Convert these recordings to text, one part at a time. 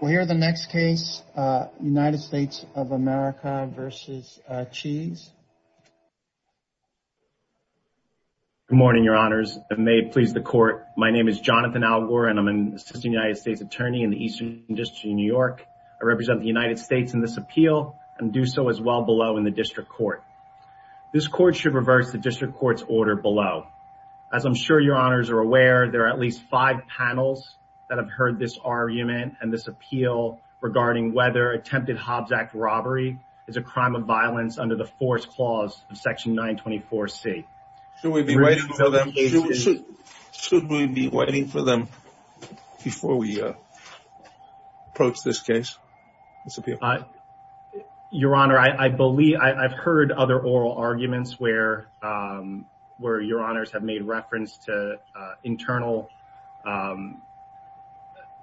We'll hear the next case, United States of America v. Cheese. Good morning, your honors. If it may please the court, my name is Jonathan Algor, and I'm an assistant United States attorney in the Eastern District of New York. I represent the United States in this appeal and do so as well below in the district court. This court should reverse the district court's order below. As I'm sure your honors are aware, there are at least five panels that have heard this argument and this appeal regarding whether attempted Hobbs Act robbery is a crime of violence under the force clause of section 924C. Should we be waiting for them before we approach this case? Your honor, I've heard other oral arguments where your honors have made reference to internal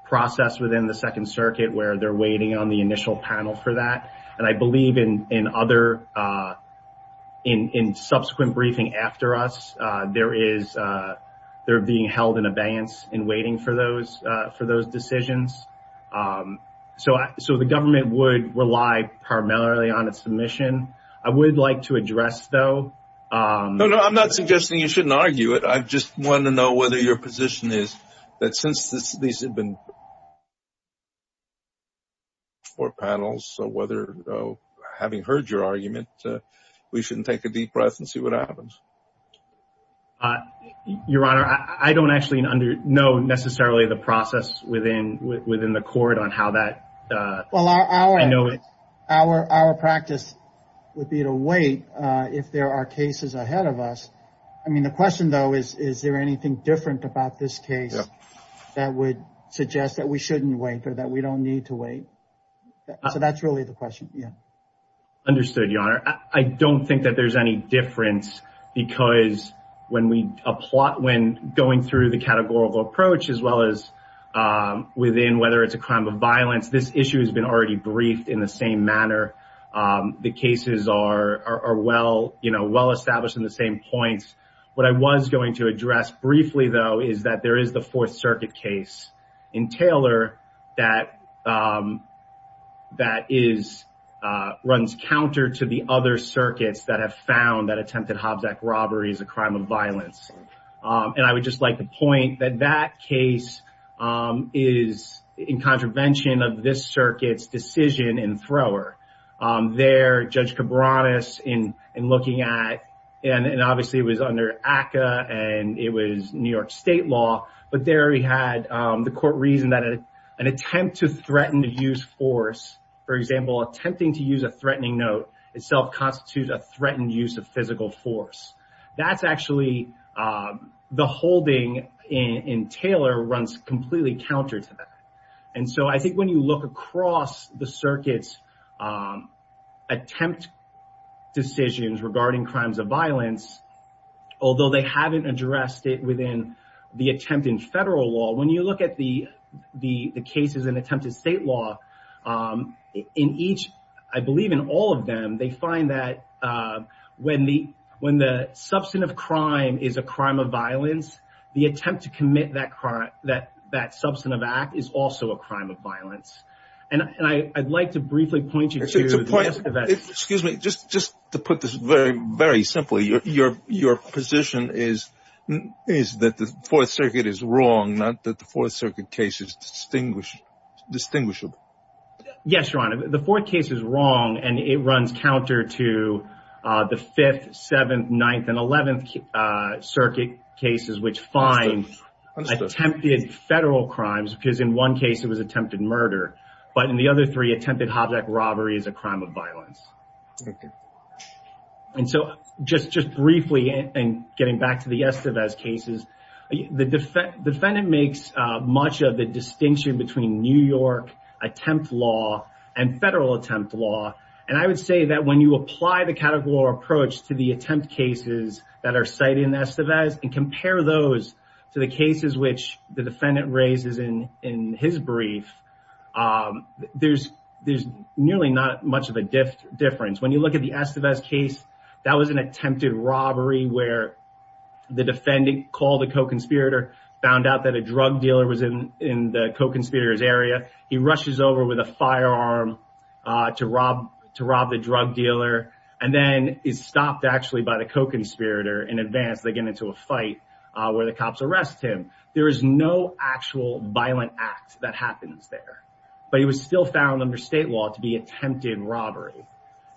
process within the Second Circuit where they're waiting on the initial panel for that, and I believe in subsequent briefing after us, they're being held in abeyance and waiting for those decisions. So the government would rely primarily on its submission. I would like to address, though... No, no, I'm not suggesting you shouldn't argue it. I just want to know your position is that since these have been four panels, so having heard your argument, we shouldn't take a deep breath and see what happens. Your honor, I don't actually know necessarily the process within the court on how that... Well, our practice would be to wait if there are cases ahead of us. I mean, the question, though, is there anything different about this case that would suggest that we shouldn't wait or that we don't need to wait? So that's really the question. Yeah. Understood, your honor. I don't think that there's any difference because when going through the categorical approach as well as within whether it's a crime of violence, this issue has been already briefed in the same manner. The cases are well established in the same points. What I was going to address briefly, though, is that there is the Fourth Circuit case in Taylor that runs counter to the other circuits that have found that attempted Hobbs Act robbery is a crime of violence. And I would just like to there, Judge Cabranes in looking at, and obviously it was under ACCA and it was New York state law, but there he had the court reason that an attempt to threaten to use force, for example, attempting to use a threatening note itself constitutes a threatened use of physical force. That's actually the holding in Taylor runs completely counter to that. And so I think you look across the circuits attempt decisions regarding crimes of violence, although they haven't addressed it within the attempt in federal law, when you look at the cases in attempted state law, in each, I believe in all of them, they find that when the substance of crime is a crime of violence, the attempt to commit that crime, is also a crime of violence. And I'd like to briefly point you to that. Excuse me, just to put this very, very simply, your position is that the Fourth Circuit is wrong, not that the Fourth Circuit case is distinguishable. Yes, Your Honor, the Fourth case is wrong and it runs counter to the Fifth, Seventh, Ninth, and Eleventh Circuit cases, which find attempted federal crimes, because in one case it was attempted murder, but in the other three attempted hobjack robbery is a crime of violence. And so just briefly, and getting back to the Estevez cases, the defendant makes much of the distinction between New York attempt law and federal attempt law. And I would say that when you apply the categorical approach to the attempt cases that are cited in Estevez and compare those to the cases which the defendant raises in his brief, there's nearly not much of a difference. When you look at the Estevez case, that was an attempted robbery where the defendant called the co-conspirator, found out that a drug dealer was in the co-conspirator's area. He rushes over with a firearm to rob the drug dealer, and then is stopped actually by the co-conspirator in advance. They get into a fight where the cops arrest him. There is no actual violent act that happens there, but he was still found under state law to be attempted robbery.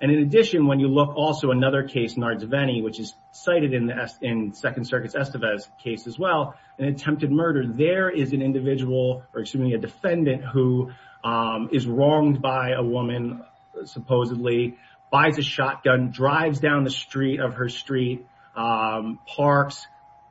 And in addition, when you look also another case, Nardzveni, which is cited in Second Circuit's Estevez case as well, an attempted murder, there is an individual, or excuse me, a defendant who is wronged by a woman supposedly, buys a shotgun, drives down the street of her street, parks,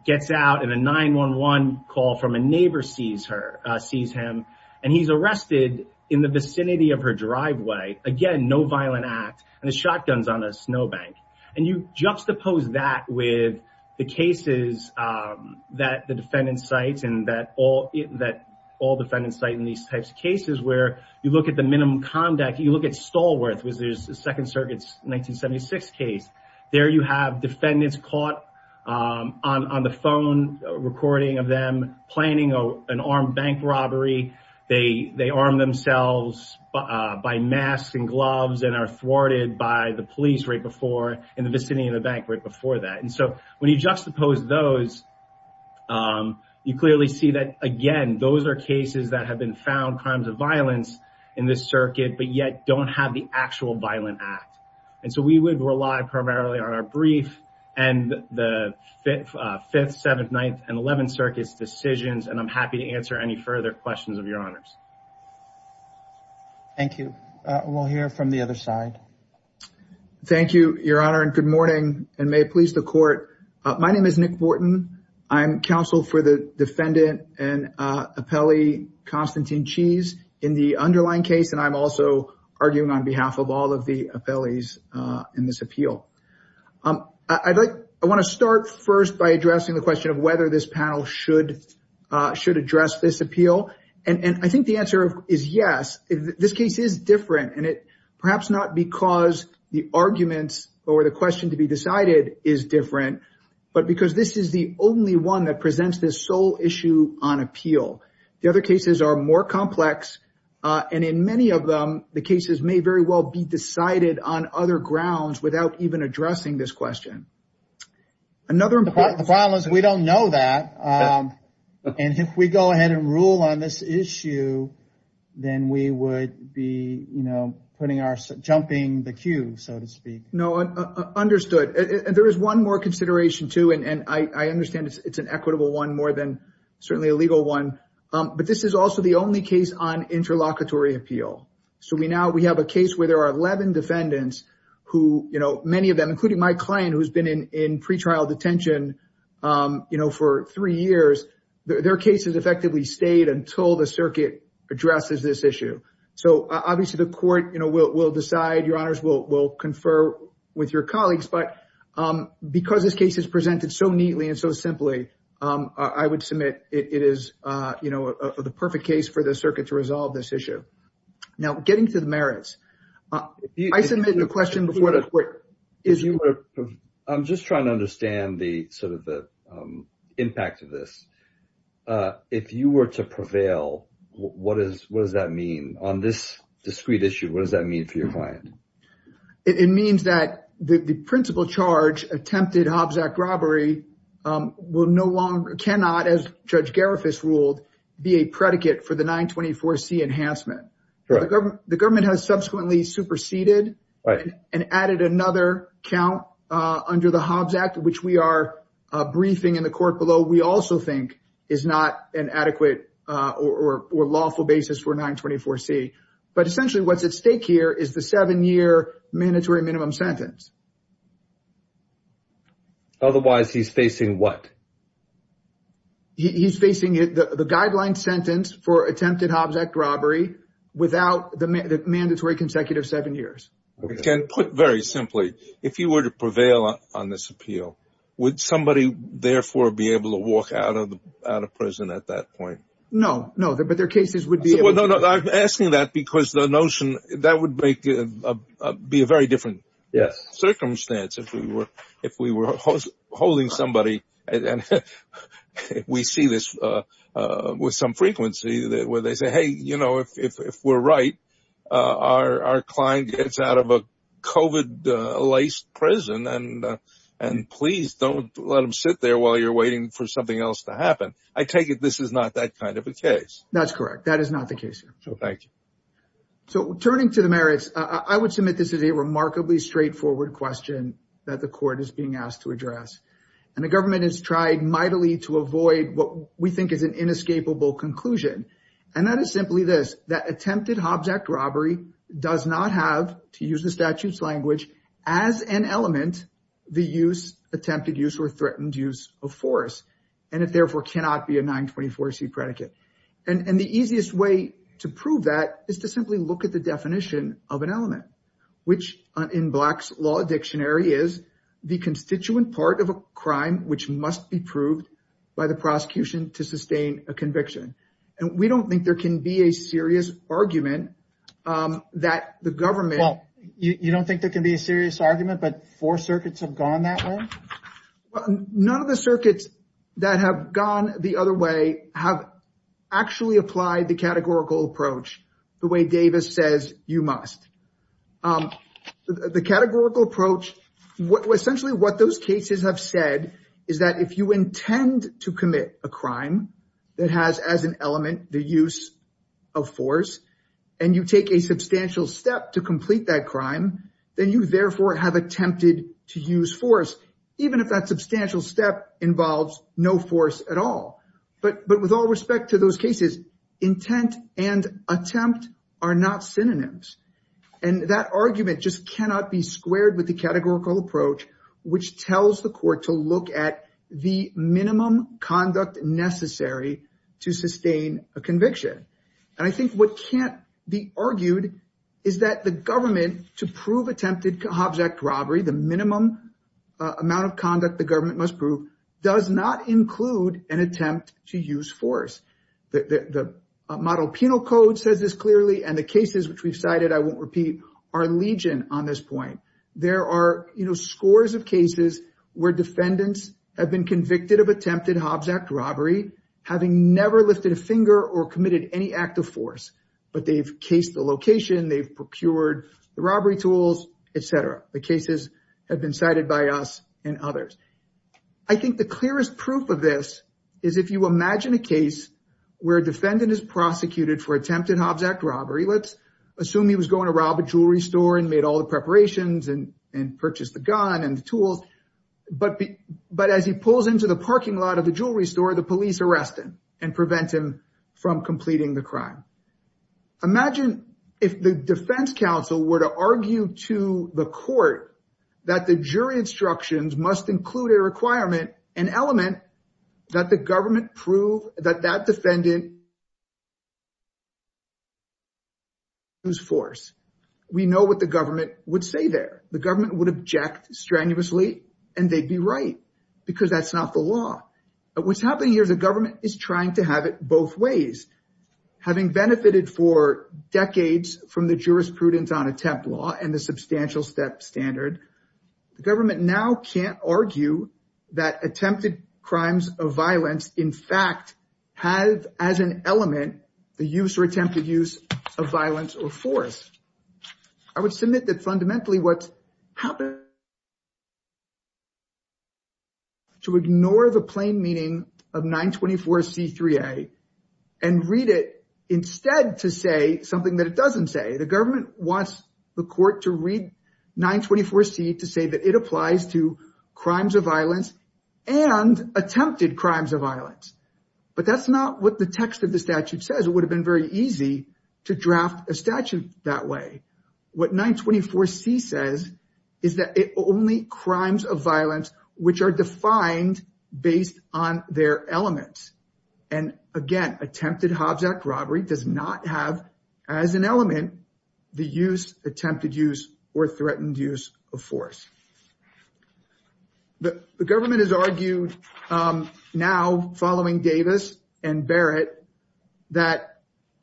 gets out, and a 911 call from a neighbor sees her, sees him, and he's arrested in the vicinity of her driveway. Again, no violent act, and the shotgun's on a snowbank. And you juxtapose that with the cases that the defendant cites, and that all defendants cite in these types of cases, where you look at the minimum conduct, you look at Stallworth, which is Second Circuit's 1976 case. There you have defendants caught on the phone, a recording of them planning an armed bank robbery. They arm themselves by masks and gloves, and are thwarted by the police right before, in the vicinity of the bank right before that. And so when you juxtapose those, you clearly see that, again, those are cases that have been found crimes of violence in this circuit, but yet don't have the actual violent act. And so we would rely primarily on our brief and the 5th, 7th, 9th, and 11th Circuit's decisions, and I'm happy to answer any further questions of your honors. Thank you. We'll hear from the other side. Thank you, your honor, and good morning, and may it please the court. My name is Nick Wharton. I'm counsel for the defendant and appellee, Constantine Cheese, in the underlying case, and I'm also arguing on behalf of all of the appellees in this appeal. I'd like, I want to start first by addressing the question of whether this panel should address this appeal. And I think the answer is yes. This case is different, and it perhaps not because the arguments or the question to be decided is different, but because this is the only one that presents this sole issue on appeal. The other cases are more complex, and in many of them, the cases may very well be decided on other grounds without even addressing this question. The problem is we don't know that, and if we go ahead and rule on this issue, then we would be, you know, putting our, jumping the queue, so to speak. No, understood. There is one more consideration, too, and I understand it's an equitable one more than certainly a legal one, but this is also the only case on interlocutory appeal. So we now, we have a case where there are 11 defendants who, you know, many of them, including my client, who's been in pretrial detention, you know, for three years, their cases effectively stayed until the circuit addresses this issue. So obviously the court, you know, will decide, your honors, will confer with your colleagues, but because this case is presented so neatly and so simply, I would submit it is, you know, the perfect case for the circuit to resolve this issue. Now, getting to the merits, I submitted the question before the court. I'm just trying to understand the sort of the impact of this. If you were to prevail, what does that mean on this discrete issue? What does that mean for your client? It means that the principal charge, attempted Hobbs Act robbery, will no longer, cannot, as Judge Garifas ruled, be a predicate for the 924C enhancement. The government has subsequently superseded and added another count under the Hobbs Act, which we are briefing in the court below, we also think is not an adequate or lawful basis for 924C. But essentially what's at stake here is the seven year mandatory minimum sentence. Otherwise he's facing what? He's facing the guideline sentence for attempted Hobbs Act robbery without the mandatory consecutive seven years. Put very simply, if you were to prevail on this appeal, would somebody therefore be able to walk out of prison at that point? No, no, but their cases would be... I'm asking that because the notion, that would make, be a very different circumstance if we were holding somebody, and we see this with some frequency, where they say, hey, you know, if we're right, our client gets out of a COVID-laced prison and please don't let them sit there while you're waiting for something else to happen. I take it this is not that kind of a case. That's correct. That is not the case here. So turning to the merits, I would submit this is a remarkably straightforward question that the court is being asked to address. And the government has tried mightily to avoid what we think is an inescapable conclusion. And that is simply this, that attempted Hobbs Act robbery does not have, to use the statute's language, as an element, the use, attempted use, or threatened use of force. And it therefore cannot be a 924C predicate. And the easiest way to prove that is to simply look at the definition of an element, which in Black's Law Dictionary is the constituent part of a crime, which must be proved by the prosecution to sustain a conviction. And we don't think there can be a serious argument that the government... Well, you don't think there can be a serious argument, but four circuits have gone that way? None of the circuits that have gone the other way have actually applied the categorical approach the way Davis says you must. The categorical approach... Essentially what those cases have said is that if you intend to commit a crime that has, as an element, the use of force, and you take a substantial step to complete that crime, then you therefore have attempted to use force, even if that substantial step involves no force at all. But with all respect to those cases, intent and attempt are not synonyms. And that argument just cannot be squared with the categorical approach, which tells the court to look at the minimum conduct necessary to sustain a conviction. And I think what can't be argued is that the government, to prove attempted does not include an attempt to use force. The model penal code says this clearly, and the cases which we've cited, I won't repeat, are legion on this point. There are scores of cases where defendants have been convicted of attempted Hobbs Act robbery, having never lifted a finger or committed any act of force, but they've cased the location, they've procured the robbery tools, etc. The cases have been cited by us and others. I think the clearest proof of this is if you imagine a case where a defendant is prosecuted for attempted Hobbs Act robbery, let's assume he was going to rob a jewelry store and made all the preparations and purchased the gun and the tools, but as he pulls into the parking lot of the jewelry store, the police arrest him and prevent him from completing the crime. Imagine if the defense counsel were to argue to the court that the jury instructions must include a requirement, an element, that the government prove that that defendant used force. We know what the government would say there. The government would object strenuously and they'd be right because that's not the law. But what's happening here is the have it both ways. Having benefited for decades from the jurisprudence on attempt law and the substantial step standard, the government now can't argue that attempted crimes of violence, in fact, have as an element the use or attempted use of violence or force. I would submit that fundamentally what's happened to ignore the plain meaning of 924C3A and read it instead to say something that it doesn't say. The government wants the court to read 924C to say that it applies to crimes of violence and attempted crimes of violence. But that's not what the text of the statute says. It would have been very easy to draft a statute that way. What 924C says is that it only crimes of violence which are defined based on their elements. And again, attempted Hobbs Act robbery does not have as an element the use, attempted use, or threatened use of force. The government has argued now, following Davis and Barrett, that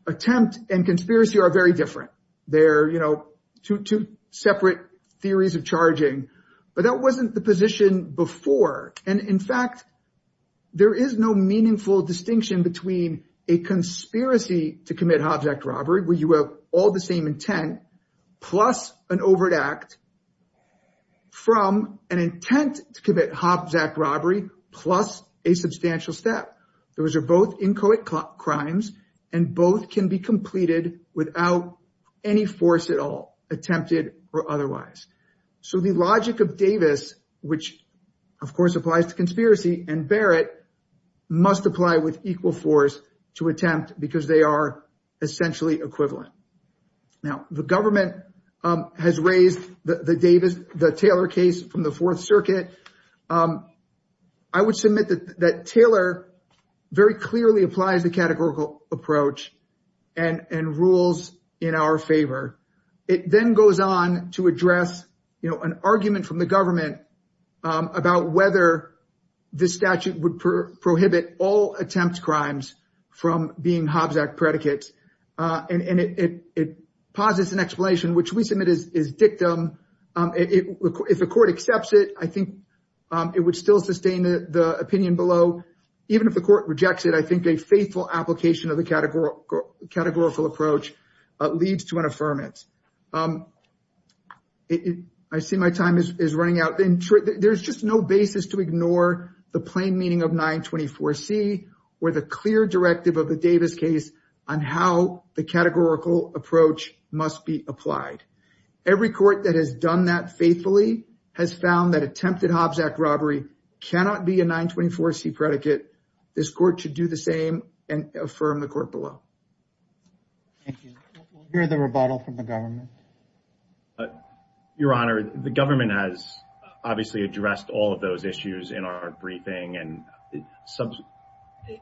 attempt and conspiracy are very different. They're, you know, two separate theories of charging. But that wasn't the position before. And in fact, there is no meaningful distinction between a conspiracy to commit overt act from an intent to commit Hobbs Act robbery plus a substantial step. Those are both inchoate crimes and both can be completed without any force at all, attempted or otherwise. So the logic of Davis, which of course applies to conspiracy, and Barrett must apply with equal force to attempt because they are essentially equivalent. Now the government has raised the Davis, the Taylor case from the Fourth Circuit. I would submit that Taylor very clearly applies the categorical approach and rules in our favor. It then goes on to address, you know, an argument from the government about whether the statute would prohibit all attempt crimes from being Hobbs Act predicates. And it posits an explanation, which we submit is dictum. If the court accepts it, I think it would still sustain the opinion below. Even if the court rejects it, I think a faithful application of the categorical approach leads to an affirmance. I see my time is running out. There's just no basis to ignore the plain meaning of 924C or the clear directive of the Davis case on how the categorical approach must be applied. Every court that has done that faithfully has found that attempted Hobbs Act robbery cannot be a 924C predicate. This court should do the same and affirm the court below. Thank you. We'll hear the rebuttal from the government. Your Honor, the government has obviously addressed all of those issues in our briefing and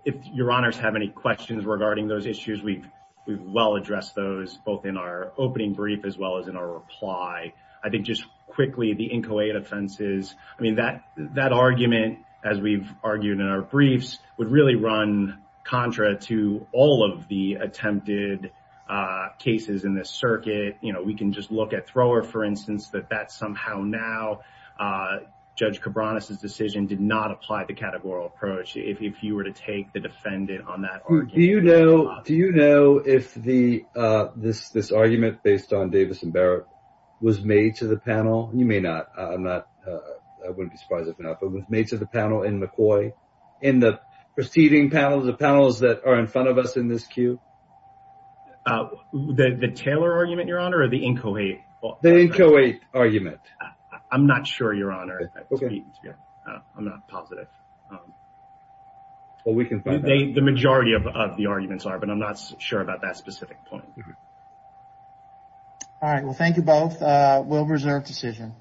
if Your Honors have any questions regarding those issues, we've well addressed those both in our opening brief as well as in our reply. I think just quickly the Incoate offenses, I mean that argument, as we've argued in our briefs, would really run contra to all of the attempted cases in this circuit. You know, we can just look at Thrower, for instance, that that somehow now Judge Cabranes' decision did not apply the categorical approach if you were to take the defendant on that argument. Do you know if this argument based on Davis and Barrett was made to the panel? You may not. I'm not, I wouldn't be surprised if not, but was made to the panel in McCoy, in the preceding panels, the panels that are in front of us in this queue? The Taylor argument, Your Honor, or the Incoate? The Incoate argument. I'm not sure, Your Honor. I'm not positive. Well, we can find out. The majority of the arguments are, but I'm not sure about that specific point. All right. Well, thank you both. We'll reserve decision.